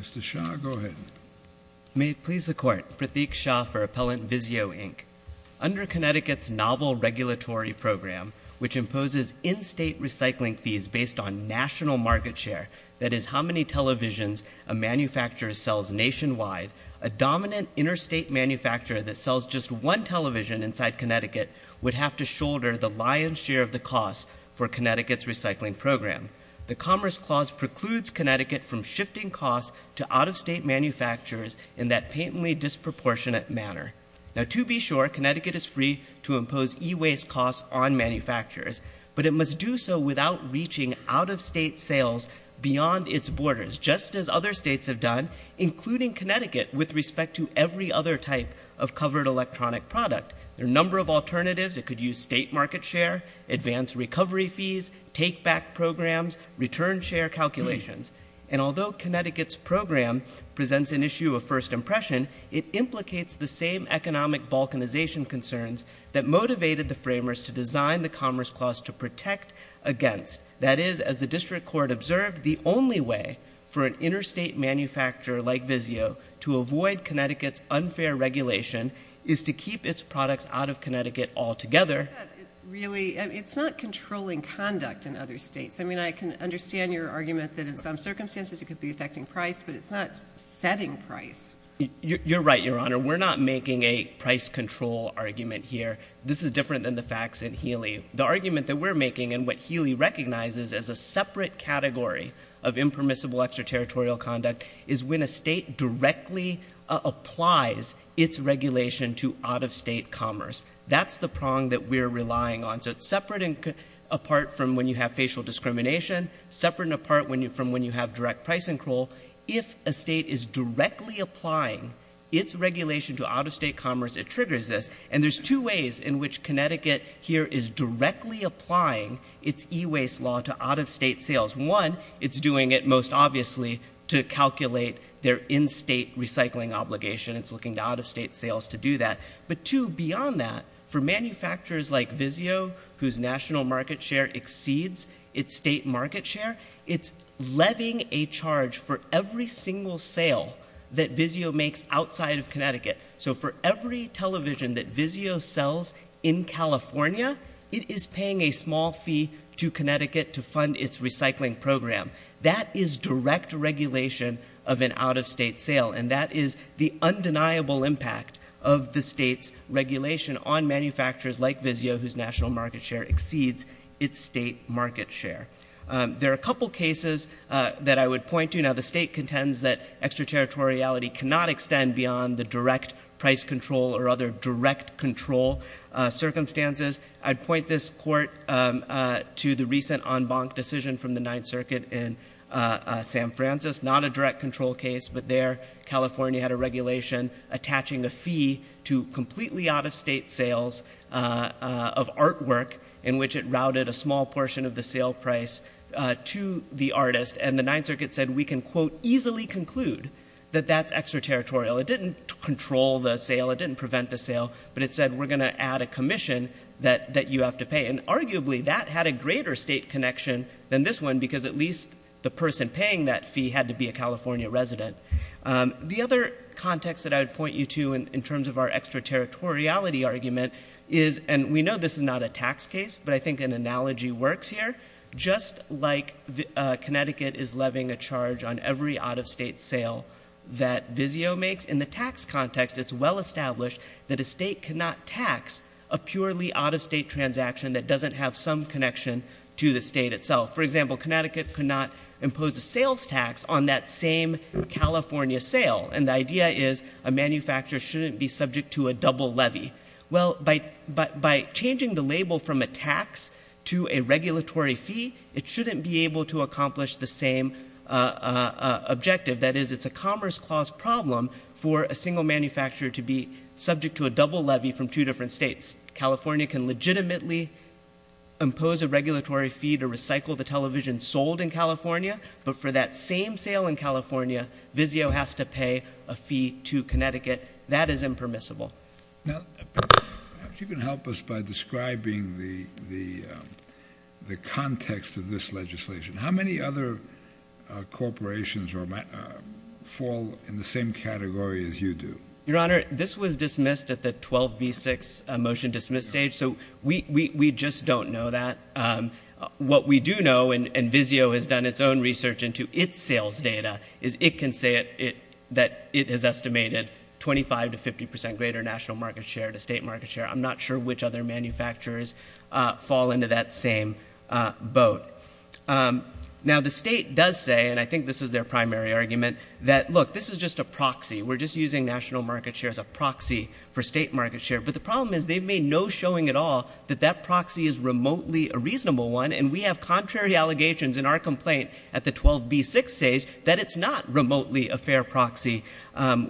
Mr. Shah, go ahead. May it please the Court. Prateek Shah for Appellant VIZIO, Inc. Under Connecticut's novel regulatory program, which imposes in-state recycling fees based on national market share, that is, how many televisions a manufacturer sells nationwide, a dominant interstate manufacturer that sells just one television inside Connecticut would have to shoulder the lion's share of the costs for Connecticut's recycling program. The Commerce Clause precludes Connecticut from shifting costs to out-of-state manufacturers in that patently disproportionate manner. Now, to be sure, Connecticut is free to impose e-waste costs on manufacturers, but it must do so without reaching out-of-state sales beyond its borders, just as other states have done, including Connecticut, with respect to every other type of covered electronic product. There are a number of alternatives. It could use state market share, advance recovery fees, take-back programs, return share calculations. And although Connecticut's program presents an issue of first impression, it implicates the same economic balkanization concerns that motivated the framers to design the Commerce Clause to protect against. That is, as the District Court observed, the only way for an interstate manufacturer like VIZIO to avoid Connecticut's unfair regulation is to keep its products out of Connecticut altogether. I think that it's not controlling conduct in other states. I mean, I can understand your argument that in some circumstances it could be affecting price, but it's not setting price. You're right, Your Honor. We're not making a price control argument here. This is different than the facts in Healy. The argument that we're making and what Healy recognizes as a separate category of impermissible extraterritorial conduct is when a state directly applies its regulation to out-of-state commerce. That's the prong that we're relying on. So it's separate and apart from when you have facial discrimination, separate and apart from when you have direct price control. If a state is directly applying its regulation to out-of-state commerce, it triggers this. And there's two ways in which Connecticut here is directly applying its e-waste law to out-of-state sales. One, it's doing it most obviously to calculate their in-state recycling obligation. It's looking to out-of-state sales to do that. But two, beyond that, for manufacturers like Vizio, whose national market share exceeds its state market share, it's levying a charge for every single sale that Vizio makes outside of Connecticut. So for every television that Vizio sells in California, it is paying a small fee to Connecticut to fund its recycling program. That is direct regulation of an out-of-state sale. And that is the undeniable impact of the state's regulation on manufacturers like Vizio, whose national market share exceeds its state market share. There are a couple cases that I would point to. Now, the state contends that extraterritoriality cannot extend beyond the direct price control or other direct control circumstances. I'd point this court to the recent en banc decision from the Ninth Circuit in San Francisco. Not a direct control case, but there, California had a regulation attaching a fee to completely out-of-state sales of artwork in which it routed a small portion of the sale price to the artist. And the Ninth Circuit said, we can, quote, easily conclude that that's extraterritorial. It didn't control the sale, it didn't prevent the sale, but it said, we're going to add a commission that you have to pay. And arguably, that had a greater state connection than this one, because at least the person paying that fee had to be a California resident. The other context that I would point you to in terms of our extraterritoriality argument is, and we know this is not a tax case, but I think an analogy works here. Just like Connecticut is levying a charge on every out-of-state sale that Vizio makes, in the tax context, it's well established that a state cannot tax a purely out-of-state transaction that doesn't have some connection to the state itself. For example, Connecticut could not impose a sales tax on that same California sale. And the idea is, a manufacturer shouldn't be subject to a double levy. Well, by changing the label from a tax to a regulatory fee, it shouldn't be able to accomplish the same objective. That is, it's a commerce clause problem for a single manufacturer to be subject to a double levy from two different states. California can legitimately impose a regulatory fee to recycle the television sold in California, but for that same sale in California, Vizio has to pay a fee to Connecticut. That is impermissible. Now, perhaps you can help us by describing the context of this legislation. How many other corporations fall in the same category as you do? Your Honor, this was dismissed at the 12B6 motion dismiss stage, so we just don't know that. What we do know, and Vizio has done its own research into its sales data, is it can say that it has estimated 25 to 50 percent greater national market share to state market share. I'm not sure which other manufacturers fall into that same boat. Now, the state does say, and I think this is their primary argument, that, look, this is just a proxy. We're just using national market share as a proxy for state market share. But the problem is, they've made no showing at all that that proxy is remotely a reasonable one, and we have contrary allegations in our complaint at the 12B6 stage that it's not remotely a fair proxy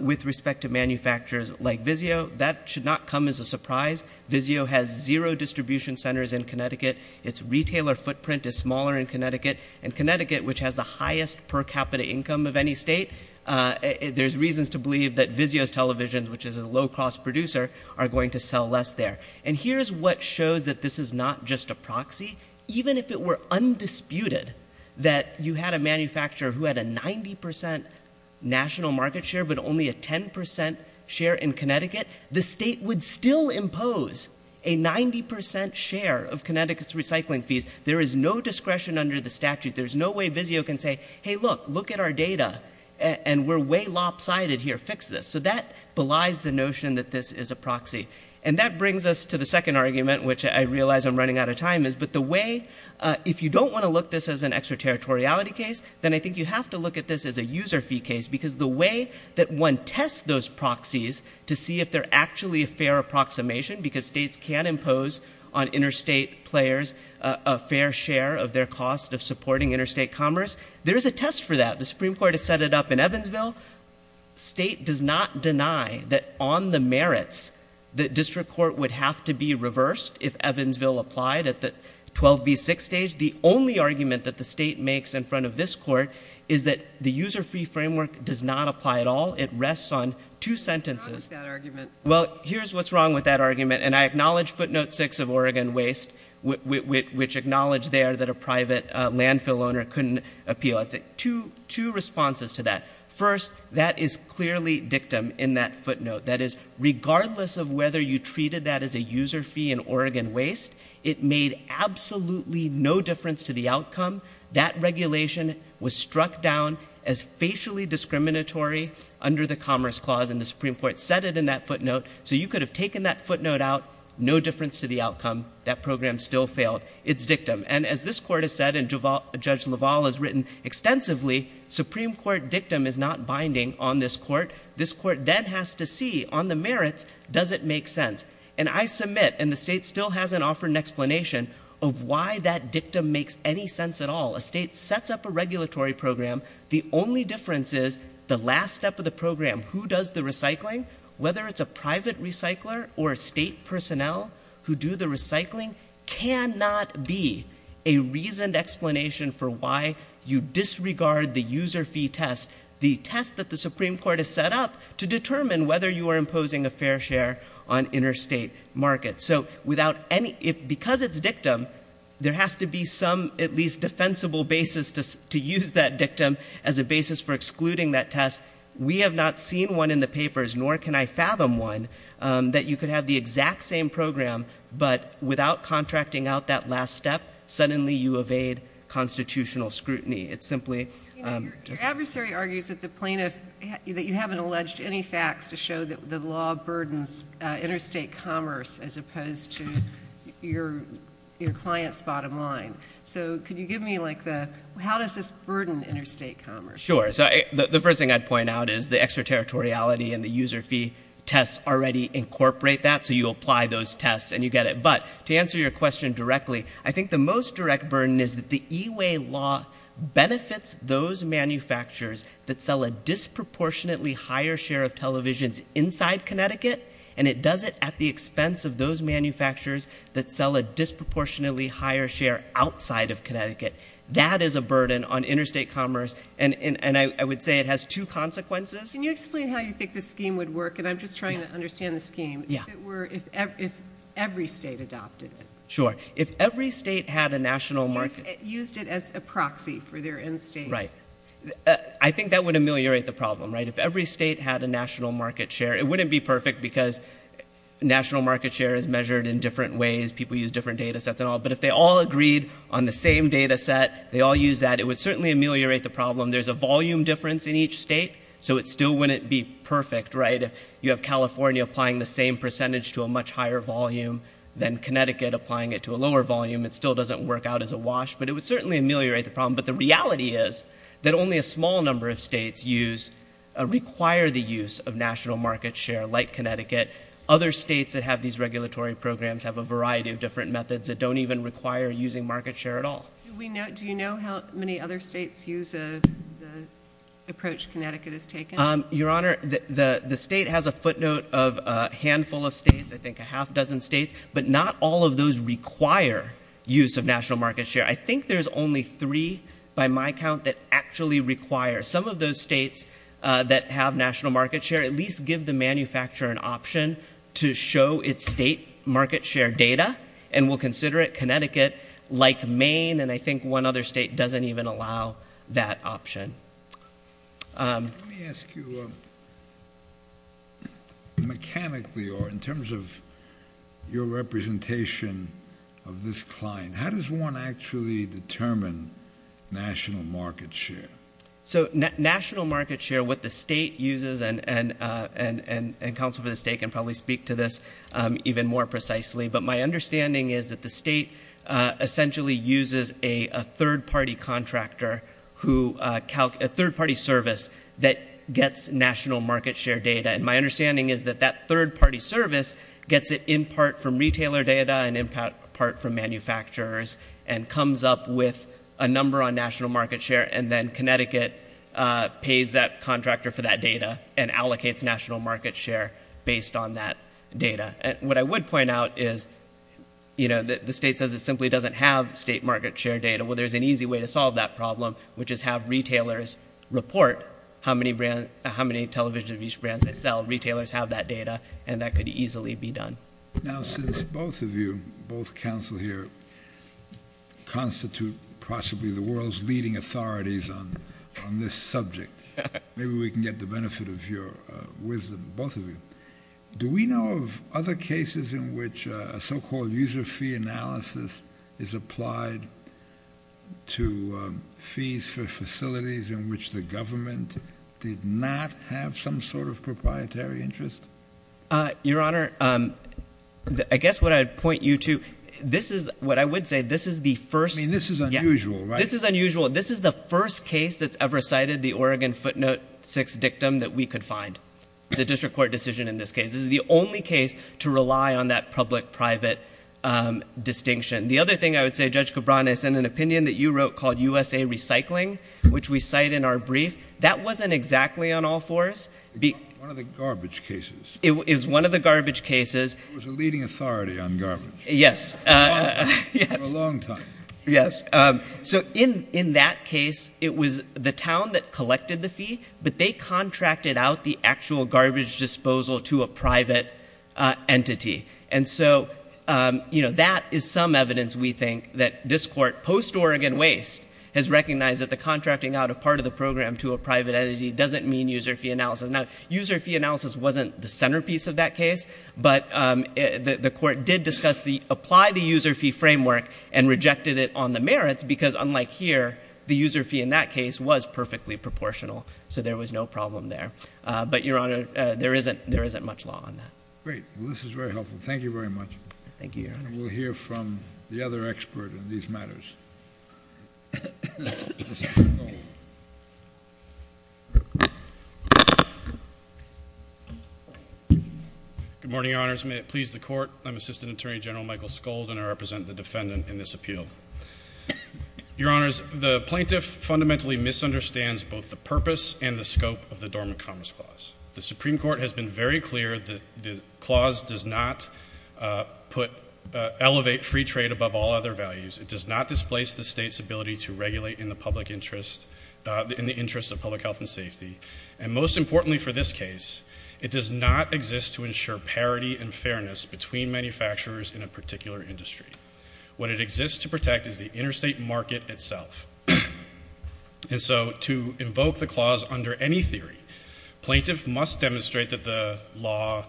with respect to manufacturers like Vizio. That should not come as a surprise. Vizio has zero distribution centers in Connecticut. Its retailer footprint is smaller in Connecticut, and Connecticut, which has the highest per penny state, there's reasons to believe that Vizio's television, which is a low-cost producer, are going to sell less there. And here's what shows that this is not just a proxy. Even if it were undisputed that you had a manufacturer who had a 90 percent national market share, but only a 10 percent share in Connecticut, the state would still impose a 90 percent share of Connecticut's recycling fees. There is no discretion under the statute. There's no way Vizio can say, hey, look, look at our data, and we're way lopsided here. Fix this. So that belies the notion that this is a proxy. And that brings us to the second argument, which I realize I'm running out of time is, but the way, if you don't want to look at this as an extraterritoriality case, then I think you have to look at this as a user fee case, because the way that one tests those proxies to see if they're actually a fair approximation, because states can impose on interstate commerce. There is a test for that. The Supreme Court has set it up in Evansville. State does not deny that on the merits that district court would have to be reversed if Evansville applied at the 12B6 stage. The only argument that the state makes in front of this court is that the user fee framework does not apply at all. It rests on two sentences. What's wrong with that argument? Well, here's what's wrong with that argument. And I acknowledge footnote six of Oregon Waste, which acknowledged there that a private landfill owner couldn't appeal. I'd say two responses to that. First, that is clearly dictum in that footnote. That is, regardless of whether you treated that as a user fee in Oregon Waste, it made absolutely no difference to the outcome. That regulation was struck down as facially discriminatory under the Commerce Clause, and the Supreme Court said it in that footnote. So you could have taken that footnote out, no difference to the outcome. That program still failed. It's dictum. And as this court has said, and Judge LaValle has written extensively, Supreme Court dictum is not binding on this court. This court then has to see, on the merits, does it make sense? And I submit, and the state still hasn't offered an explanation of why that dictum makes any sense at all. A state sets up a regulatory program. The only difference is, the last step of the program, who does the recycling, whether it's a private recycler or a state personnel who do the recycling, cannot be a reasoned explanation for why you disregard the user fee test, the test that the Supreme Court has set up to determine whether you are imposing a fair share on interstate markets. So without any, because it's dictum, there has to be some, at least, defensible basis to use that dictum as a basis for excluding that test. We have not seen one in the papers, nor can I fathom one, that you could have the exact same program, but without contracting out that last step, suddenly you evade constitutional scrutiny. It simply doesn't make sense. Your adversary argues that the plaintiff, that you haven't alleged any facts to show that the law burdens interstate commerce as opposed to your client's bottom line. So could you give me like the, how does this burden interstate commerce? Sure. So the first thing I'd point out is the extraterritoriality and the user fee tests already incorporate that. So you apply those tests and you get it. But to answer your question directly, I think the most direct burden is that the E-Way law benefits those manufacturers that sell a disproportionately higher share of televisions inside Connecticut, and it does it at the expense of those manufacturers that sell a disproportionately higher share outside of Connecticut. That is a burden on interstate commerce, and I would say it has two consequences. Can you explain how you think this scheme would work? And I'm just trying to understand the scheme. If it were, if every state adopted it. Sure. If every state had a national market share. Used it as a proxy for their end state. Right. I think that would ameliorate the problem, right? If every state had a national market share, it wouldn't be perfect because national market share is measured in different ways, people use different data sets and all, but if they all agreed on the same data set, they all use that, it would certainly ameliorate the problem. There's a volume difference in each state, so it still wouldn't be perfect, right? If you have California applying the same percentage to a much higher volume than Connecticut applying it to a lower volume, it still doesn't work out as a wash, but it would certainly ameliorate the problem. But the reality is that only a small number of states use, require the use of national market share like Connecticut. Other states that have these regulatory programs have a variety of different methods that don't even require using market share at all. Do you know how many other states use the approach Connecticut has taken? Your Honor, the state has a footnote of a handful of states, I think a half dozen states, but not all of those require use of national market share. I think there's only three by my count that actually require. Some of those states that have national market share at least give the manufacturer an option to show its state market share data, and will consider it Connecticut, like Maine, and I think one other state doesn't even allow that option. Let me ask you mechanically, or in terms of your representation of this client, how does one actually determine national market share? So national market share, what the state uses, and counsel for the state can probably speak to this even more precisely, but my understanding is that the state essentially uses a third party contractor who, a third party service that gets national market share data, and my understanding is that that third party service gets it in part from retailer data and in part from manufacturers, and comes up with a number on national market share, and then Connecticut pays that contractor for that data, and allocates national market share based on that data, and what I would point out is, you know, the state says it simply doesn't have state market share data, well there's an easy way to solve that problem, which is have retailers report how many television brands they sell, retailers have that data, and that could easily be done. Now since both of you, both counsel here, constitute possibly the world's leading authorities on this subject, maybe we can get the benefit of your wisdom, both of you. Do we know of other cases in which a so-called user fee analysis is applied to fees for facilities in which the government did not have some sort of proprietary interest? Your Honor, I guess what I'd point you to, this is what I would say, this is the first I mean, this is unusual, right? This is unusual, this is the first case that's ever cited the Oregon footnote 6 dictum that we could find, the district court decision in this case. This is the only case to rely on that public-private distinction. The other thing I would say, Judge Cabran, is in an opinion that you wrote called USA Recycling, which we cite in our brief, that wasn't exactly on all fours One of the garbage cases It was one of the garbage cases It was a leading authority on garbage Yes For a long time Yes For a long time Yes. So in that case, it was the town that collected the fee, but they contracted out the actual garbage disposal to a private entity. And so, you know, that is some evidence we think that this court, post-Oregon waste, has recognized that the contracting out a program to a private entity doesn't mean user fee analysis. Now, user fee analysis wasn't the centerpiece of that case, but the court did discuss the, apply the user fee framework and rejected it on the merits, because unlike here, the user fee in that case was perfectly proportional. So there was no problem there. But, Your Honor, there isn't much law on that. Great. Well, this is very helpful. Thank you very much. Thank you, Your Honor. And we'll hear from the other expert in these matters. Good morning, Your Honors. May it please the Court, I'm Assistant Attorney General Michael Skold and I represent the defendant in this appeal. Your Honors, the plaintiff fundamentally misunderstands both the purpose and the scope of the Dormant Commerce Clause. The Supreme Court has been very clear that the clause does not put, elevate free trade above all other values. It does not displace the state's ability to regulate in the public interest, in the interest of public health and safety. And most importantly for this case, it does not exist to ensure parity and fairness between manufacturers in a particular industry. What it exists to protect is the interstate market itself. And so, to invoke the clause under any theory, plaintiff must demonstrate that the law,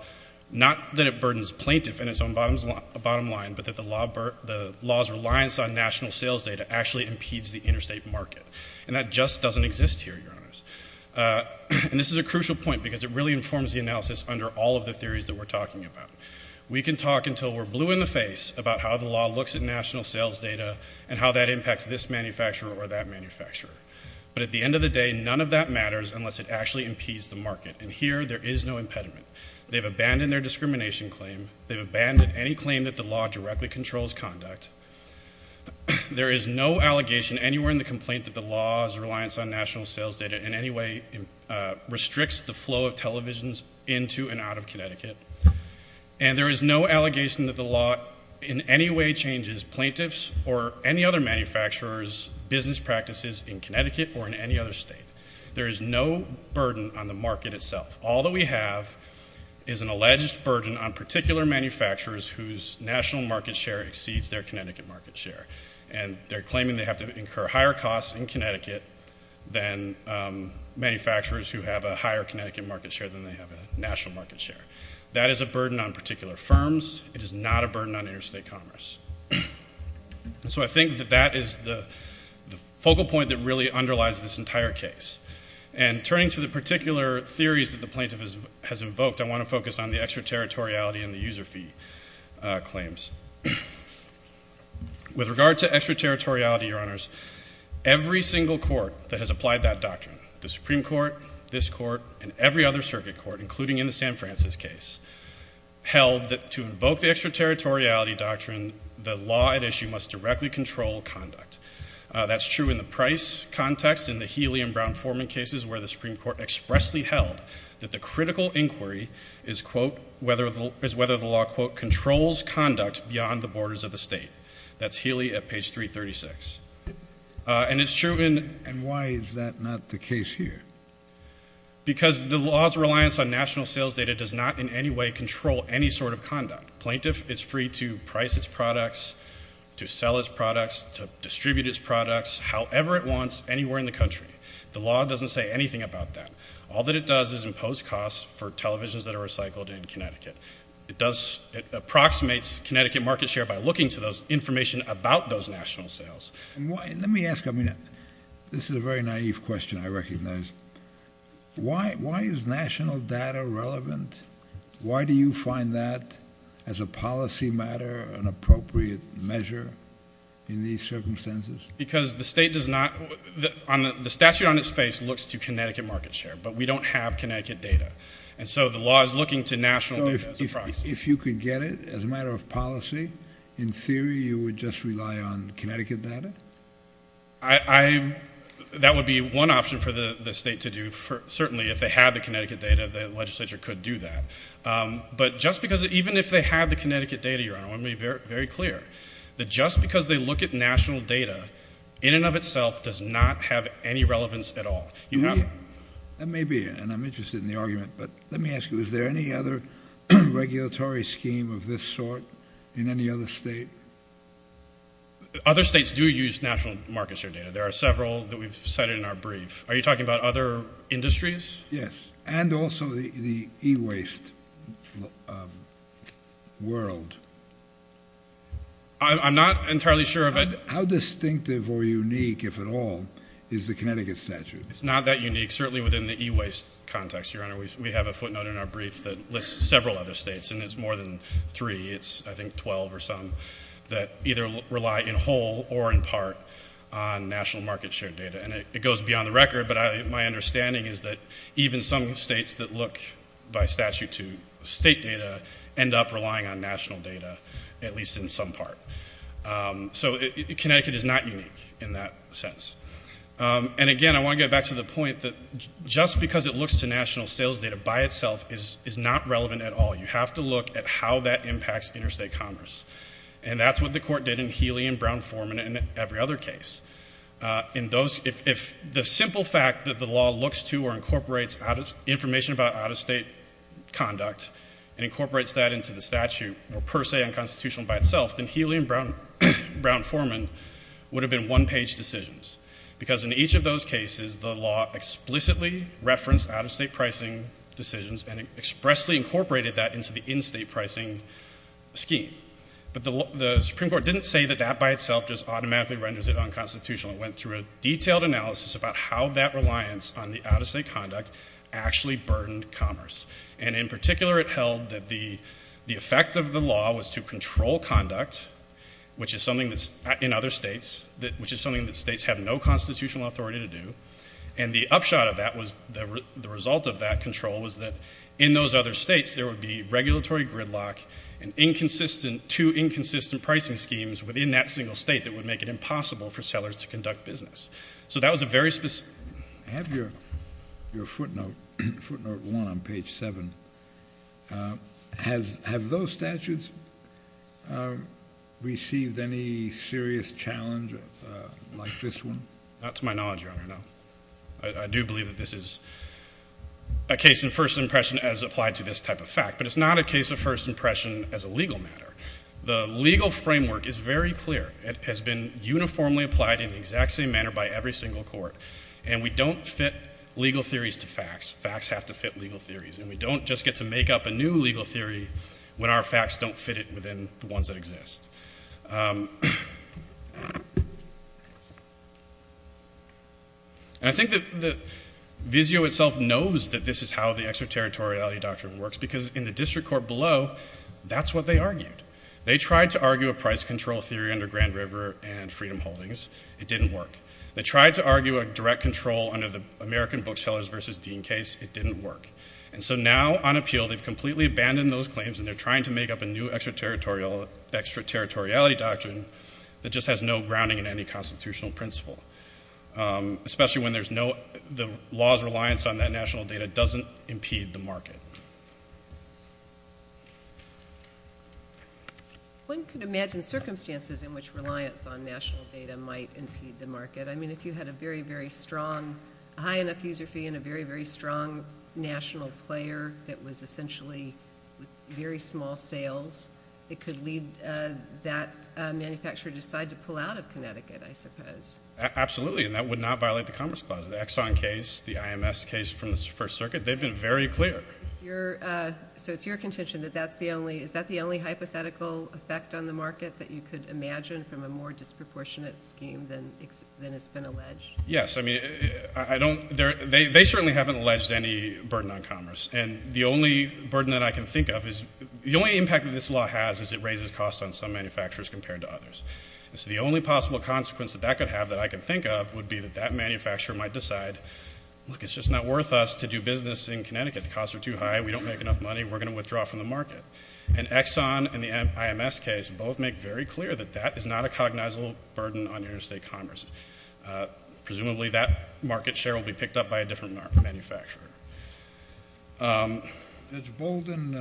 not that it burdens plaintiff in its own bottom line, but that the law's reliance on national sales data actually impedes the interstate market. And that just doesn't exist here, Your Honors. And this is a crucial point because it really informs the analysis under all of the theories that we're talking about. We can talk until we're blue in the face about how the law looks at national sales data and how that impacts this manufacturer or that manufacturer. But at the end of the day, none of that matters unless it actually impedes the market. And here, there is no impediment. They've abandoned their discrimination claim. They've abandoned any claim that the law directly controls conduct. There is no allegation anywhere in the complaint that the law's reliance on national sales data in any way restricts the flow of televisions into and out of Connecticut. And there is no allegation that the law in any way changes plaintiff's or any other manufacturer's business practices in Connecticut or in any other state. There is no burden on the market itself. All that we have is an alleged burden on particular manufacturers whose national market share exceeds their Connecticut market share. And they're claiming they have to incur higher costs in Connecticut than manufacturers who have a higher Connecticut market share than they have a national market share. That is a burden on particular firms. It is not a burden on interstate commerce. So I think that that is the focal point that really underlies this entire case. And turning to the particular theories that the plaintiff has invoked, I want to focus on the extraterritoriality and the user fee claims. With regard to extraterritoriality, Your Honors, every single court that has applied that doctrine, the Supreme Court, this Court, and every other circuit court, including in the San Francisco case, held that to invoke the extraterritoriality doctrine, the law at issue must directly control conduct. That's true in the Price context, in the Healy and Brown-Foreman cases where the Supreme Court expressly held that the critical inquiry is, quote, whether the law, quote, controls conduct beyond the borders of the state. That's Healy at page 336. And it's true in And why is that not the case here? Because the law's reliance on national sales data does not in any way control any sort of conduct. Plaintiff is free to price its products, to sell its products, to distribute its products, however it wants, anywhere in the country. The law doesn't say anything about that. All that it does is impose costs for televisions that are recycled in Connecticut. It does, it approximates Connecticut market share by looking to those information about those national sales. And why, let me ask, I mean, this is a very naive question, I recognize. Why, why is national data relevant? Why do you find that, as a policy matter, an appropriate measure in these circumstances? Because the state does not, the statute on its face looks to Connecticut market share, but we don't have Connecticut data. And so the law is looking to national data as a proxy. If you could get it as a matter of policy, in theory, you would just rely on Connecticut data? I, I, that would be one option for the state to do. Certainly, if they had the Connecticut data, the legislature could do that. Um, but just because, even if they had the Connecticut data, Your Honor, I want to be very, very clear, that just because they look at national data, in and of itself, does not have any relevance at all. You have... That may be, and I'm interested in the argument, but let me ask you, is there any other regulatory scheme of this sort in any other state? Other states do use national market share data. There are several that we've cited in our brief. Are you talking about other industries? Yes. And also the, the e-waste, um, world. I'm, I'm not entirely sure of it. How distinctive or unique, if at all, is the Connecticut statute? It's not that unique, certainly within the e-waste context, Your Honor. We have a footnote in our brief that lists several other states, and it's more than three. It's, I think, twelve or some that either rely in whole or in part on national market share data. And it goes beyond the record, but I, my understanding is that even some states that look by statute to state data end up relying on national data, at least in some part. Um, so it, it, Connecticut is not unique in that sense. Um, and again, I want to get back to the point that just because it looks to national sales data by itself is, is not relevant at all. You have to look at how that impacts interstate commerce. And that's what the Court did in Healy and Brown. If the simple fact that the law looks to or incorporates out of, information about out-of-state conduct and incorporates that into the statute were per se unconstitutional by itself, then Healy and Brown, Brown-Forman would have been one-page decisions. Because in each of those cases, the law explicitly referenced out-of-state pricing decisions and expressly incorporated that into the in-state pricing scheme. But the, the Supreme Court didn't say that that by itself just automatically renders it unconstitutional. It went through a detailed analysis about how that reliance on the out-of-state conduct actually burdened commerce. And in particular, it held that the, the effect of the law was to control conduct, which is something that's in other states, that, which is something that states have no constitutional authority to do. And the upshot of that was the, the result of that control was that in those other states, there would be regulatory gridlock and inconsistent, too inconsistent pricing schemes within that single state that would make it impossible for sellers to conduct business. So that was a very specific... I have your, your footnote, footnote one on page seven. Has, have those statutes received any serious challenge like this one? Not to my knowledge, Your Honor, no. I, I do believe that this is a case in first impression as applied to this type of fact, but it's not a case of first impression as a legal matter. The legal framework is very clear. It has been uniformly applied in the exact same manner by every single court. And we don't fit legal theories to facts. Facts have to fit legal theories. And we don't just get to make up a new legal theory when our facts don't fit it within the ones that exist. And I think that, that Vizio itself knows that this is how the extraterritoriality doctrine works, because in the district court below, that's what they argued. They tried to argue a price control theory under Grand River and Freedom Holdings. It didn't work. They tried to argue a direct control under the American Booksellers v. Dean case. It didn't work. And so now, on appeal, they've completely abandoned those claims, and they're trying to make up a new extraterritorial, extraterritoriality doctrine that just has no grounding in any constitutional principle, especially when there's no, the law's reliance on that national data doesn't impede the market. One could imagine circumstances in which reliance on national data might impede the market. I mean, if you had a very, very strong, a high enough user fee and a very, very strong national player that was essentially with very small sales, it could lead that manufacturer to decide to pull out of Connecticut, I suppose. Absolutely. And that would not violate the Commerce Clause. The Exxon case, the IMS case from the First Circuit, they've been very clear. So it's your contention that that's the only, is that the only hypothetical effect on the market that you could imagine from a more disproportionate scheme than has been alleged? Yes. I mean, I don't, they certainly haven't alleged any burden on commerce. And the only burden that I can think of is, the only impact that this law has is it raises costs on some manufacturers compared to others. And so the only possible consequence that that could have that I can think of would be that that manufacturer might decide, look, it's just not worth us to do business in Connecticut. The costs are too high. We don't make enough money. We're going to withdraw from the market. And Exxon and the IMS case both make very clear that that is not a cognizable burden on interstate commerce. Presumably that market share will be picked up by a different manufacturer. Has Bolden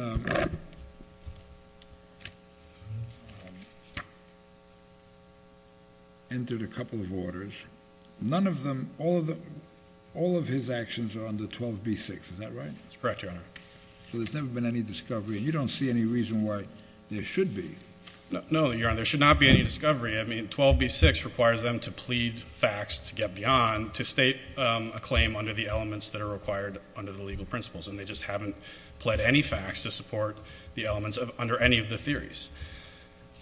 entered a couple of orders? None of them, all of his actions are under 12B6. Is that right? That's correct, Your Honor. So there's never been any discovery? And you don't see any reason why there should be? No, Your Honor. There should not be any discovery. I mean, 12B6 requires them to plead facts to get beyond to state a claim under the elements that are required under the legal principles. And they just haven't pled any facts to support the elements under any of the theories.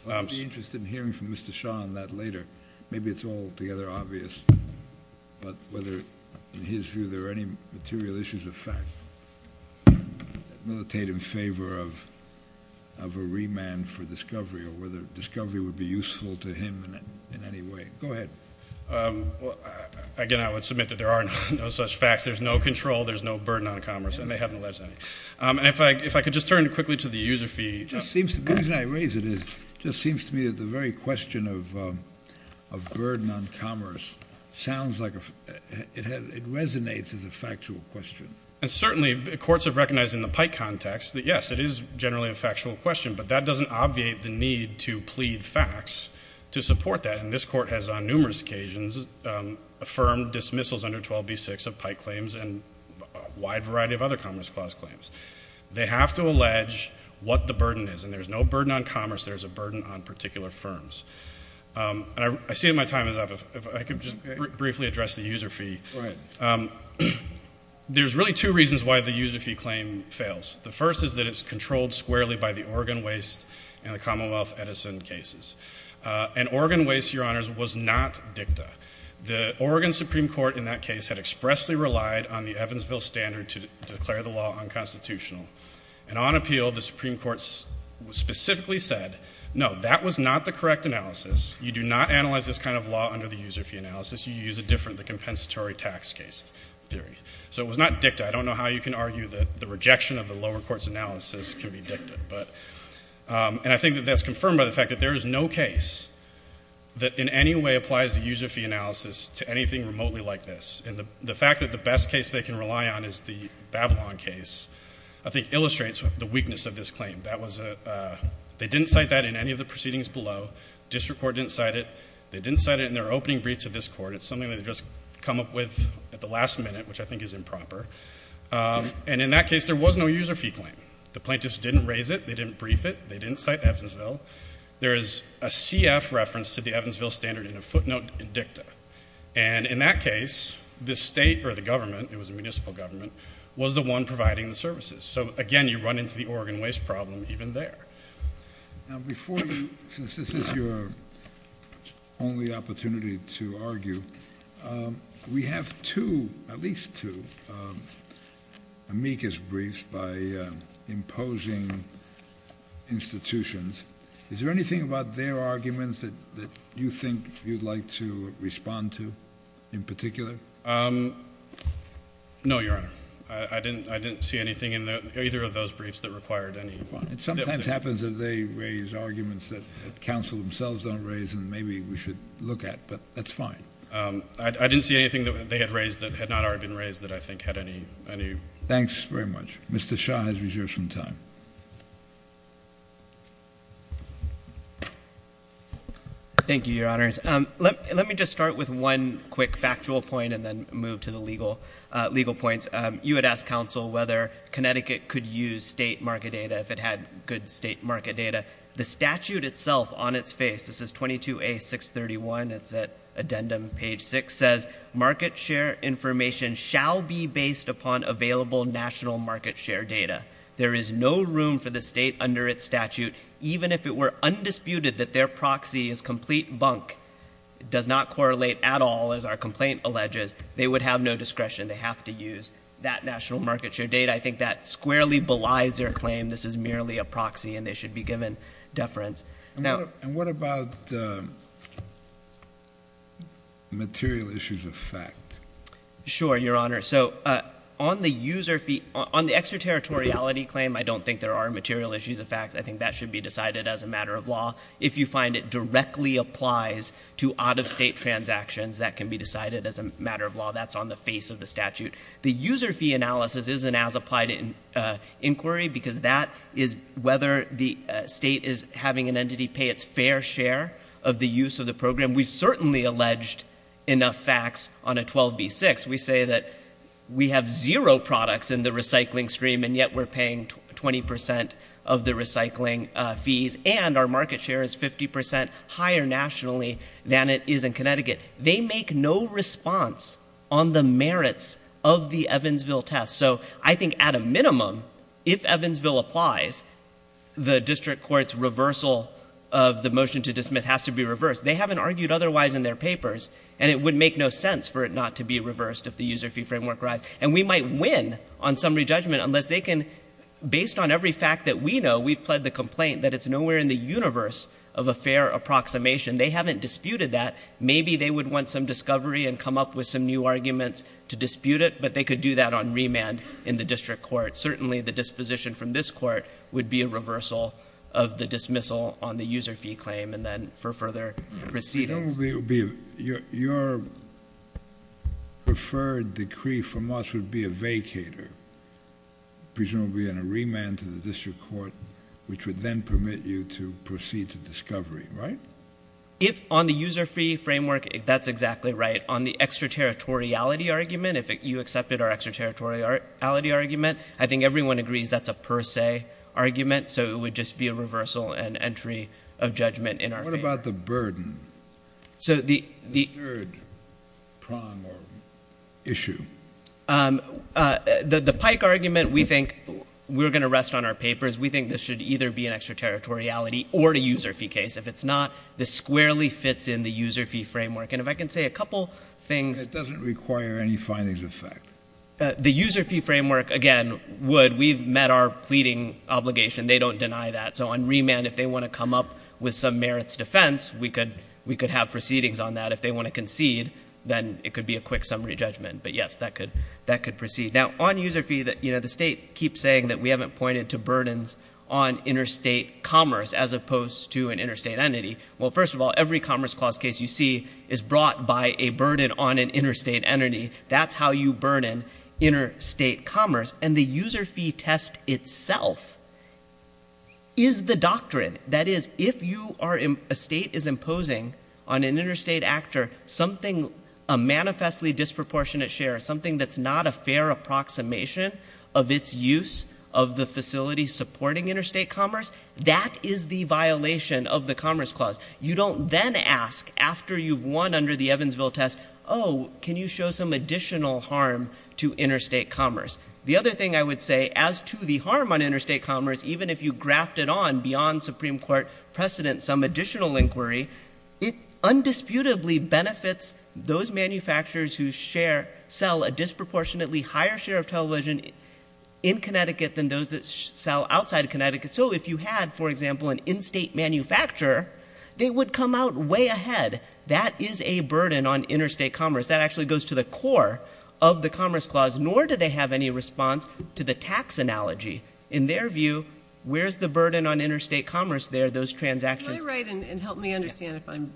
I'll be interested in hearing from Mr. Shaw on that later. Maybe it's altogether obvious. But whether, in his view, there are any material issues of fact that militate in favor of a remand for discovery or whether discovery would be useful to him in any way. Go ahead. Again, I would submit that there are no such facts. There's no control. There's no burden on commerce. And they haven't alleged any. And if I could just turn quickly to the user feed. The reason I raise it is it just seems to me that the very question of burden on commerce sounds like it resonates as a factual question. And certainly, courts have recognized in the Pike context that, yes, it is generally a factual question. But that doesn't obviate the need to plead facts to support that. And this Court has, on numerous occasions, affirmed dismissals under 12b-6 of Pike claims and a wide variety of other Commerce Clause claims. They have to allege what the burden is. And there's no burden on commerce. There's a burden on particular firms. And I see that my time is up. If I could just briefly address the user feed. Go ahead. There's really two reasons why the user feed claim fails. The first is that it's controlled squarely by the Oregon Waste and the Commonwealth Edison cases. And Oregon Waste, Your Honors, was not dicta. The Oregon Supreme Court, in that case, had expressly relied on the Evansville standard to declare the law unconstitutional. And on appeal, the Supreme Court specifically said, no, that was not the correct analysis. You do not analyze this kind of law under the user feed analysis. You use a different, the compensatory tax case theory. So it was not dicta. I don't know how you can argue that the rejection of the lower court's analysis can be dicta. And I think that that's confirmed by the fact that there is no case that in any way applies the user feed analysis to anything remotely like this. And the fact that the best case they can rely on is the Babylon case, I think, illustrates the weakness of this claim. That was a, they didn't cite that in any of the proceedings below. The district court didn't cite it. They didn't cite it in their opening brief to this court. It's something that they just come up with at the last minute, which I think is improper. And in that case, there was no user fee claim. The plaintiffs didn't raise it. They didn't brief it. They didn't cite Evansville. There is a CF reference to the Evansville standard in a footnote in dicta. And in that case, the state or the government, it was a municipal government, was the one providing the services. So again, you run into the Oregon waste problem even there. Now before you, since this is your only opportunity to argue, we have two, at least two amicus briefs by imposing institutions. Is there anything about their arguments that you think you'd like to respond to in particular? Um, no, Your Honor. I didn't, I didn't see anything in either of those briefs that required any Fine. It sometimes happens that they raise arguments that counsel themselves don't raise and maybe we should look at, but that's fine. Um, I, I didn't see anything that they had raised that had not already been raised that I think had any, any Thanks very much. Mr. Shah has reserved some time. Thank you, Your Honors. Um, let, let me just start with one quick factual point and then move to the legal, uh, legal points. Um, you had asked counsel whether Connecticut could use state market data if it had good state market data. The statute itself on its face, this is 22A631, it's at addendum page six, says market share information shall be based upon available national market share data. There is no room for the state under its statute, even if it were undisputed that their proxy is complete bunk. It does not correlate at all as our complaint alleges. They would have no discretion. They have to use that national data. It completely belies their claim. This is merely a proxy and they should be given deference. And what, and what about, um, material issues of fact? Sure, Your Honor. So, uh, on the user fee, on the extraterritoriality claim, I don't think there are material issues of facts. I think that should be decided as a matter of law. If you find it directly applies to out of state transactions, that can be decided as a matter of law. That's on the face of the statute. The user fee analysis isn't as applied in inquiry because that is whether the state is having an entity pay its fair share of the use of the program. We've certainly alleged enough facts on a 12B6. We say that we have zero products in the recycling stream and yet we're paying 20% of the recycling fees. And our market share is 50% higher nationally than it is in Connecticut. They make no response on the merits of the Evansville test. So I think at a minimum, if Evansville applies, the district court's reversal of the motion to dismiss has to be reversed. They haven't argued otherwise in their papers and it would make no sense for it not to be reversed if the user fee framework arrives. And we might win on summary judgment unless they can, based on every fact that we know, we've pled the complaint that it's nowhere in the universe of a fair approximation. They haven't disputed that. Maybe they would want some discovery and come up with some new arguments to dispute it, but they could do that on remand in the district court. Certainly the disposition from this court would be a reversal of the dismissal on the user fee claim and then for further proceedings. Your preferred decree from us would be a vacater, presumably in a remand to the district court, which would then permit you to proceed to discovery, right? If on the user fee framework, that's exactly right. On the extraterritoriality argument, if you accepted our extraterritoriality argument, I think everyone agrees that's a per se argument. So it would just be a reversal and entry of judgment in our case. What about the burden? The third prong or issue? The Pike argument, we think we're going to rest on our papers. We think this should either be an extraterritoriality or a user fee case. If it's not, this squarely fits in the user fee framework. And if I can say a couple of things... It doesn't require any findings of fact. The user fee framework, again, would. We've met our pleading obligation. They don't deny that. So on remand, if they want to come up with some merits defense, we could have proceedings on that. If they want to concede, then it could be a quick summary judgment. But yes, that could proceed. Now, on user fee, the state keeps saying that we haven't pointed to burdens on interstate commerce as opposed to an interstate entity. Well, first of all, every Commerce Clause case you see is brought by a burden on an interstate entity. That's how you burden interstate commerce. And the user fee test itself is the doctrine. That is, if a state is imposing on an interstate actor something, a manifestly disproportionate share, something that's not a fair approximation of its use of the facility supporting interstate commerce, that is the violation of the Commerce Clause. You don't then ask, after you've won under the Evansville test, oh, can you show some additional harm to interstate commerce? The other thing I would say, as to the harm on interstate commerce, even if you graft it on beyond Supreme Court precedent, some additional inquiry, it undisputably benefits those manufacturers who share, sell a disproportionately higher share of television in Connecticut than those that sell outside of Connecticut. So if you had, for example, an in-state manufacturer, they would come out way ahead. That is a burden on interstate commerce. That actually goes to the core of the Commerce Clause, nor do they have any response to the tax analogy. In their view, where's the burden on interstate commerce there, those transactions? Can I write, and help me understand if I'm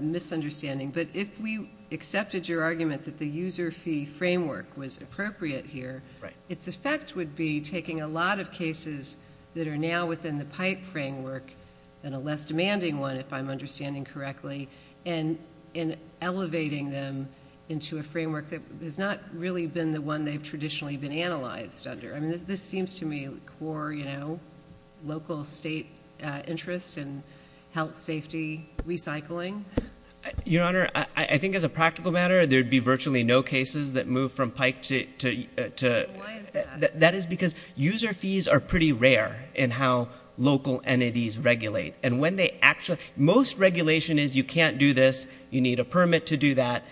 misunderstanding, but if we accepted your argument that the user fee framework was appropriate here, its effect would be taking a lot of cases that are now within the PIPE framework, and a less demanding one, if I'm understanding correctly, and elevating them into a framework that has not really been the one they've traditionally been analyzed under. I mean, this seems to me core, you know, local state interest in health safety recycling. Your Honor, I think as a practical matter, there'd be virtually no cases that move from PIPE to... Why is that? That is because user fees are pretty rare in how local entities regulate. And when they actually... Most regulation is, you can't do this, you need a permit to do that.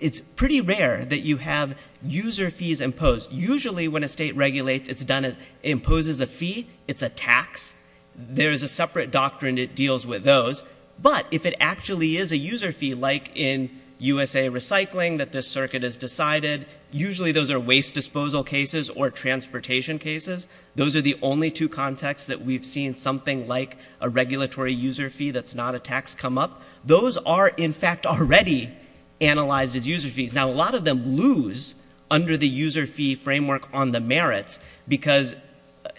It's pretty rare that you have user fees imposed. Usually when a state regulates, it imposes a fee, it's a tax. There's a separate doctrine that deals with those. But if it actually is a user fee, like in USA Recycling, that this circuit has decided, usually those are waste disposal cases or transportation cases. Those are the only two contexts that we've seen something like a regulatory user fee that's not a tax come up. Those are in fact already analyzed as user fees. Now, a lot of them lose under the user fee framework on the merits because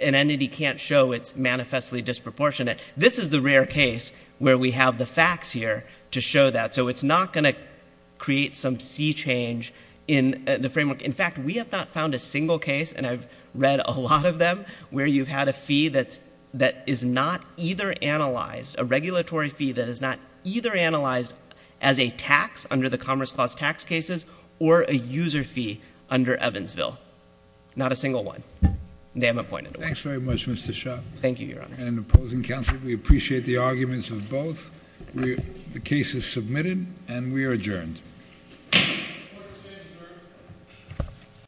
an entity can't show it's manifestly disproportionate. This is the rare case where we have the facts here to show that. So it's not going to create some sea change in the framework. In fact, we have not found a single case, and I've read a lot of them, where you've had a fee that is not either analyzed, a regulatory fee that is not either analyzed as a tax under the Commerce Clause tax cases or a user fee under Evansville. Not a single one. They haven't pointed to one. Thanks very much, Mr. Shah. Thank you, Your Honor. And opposing counsel, we appreciate the arguments of both. The case is submitted and we are adjourned.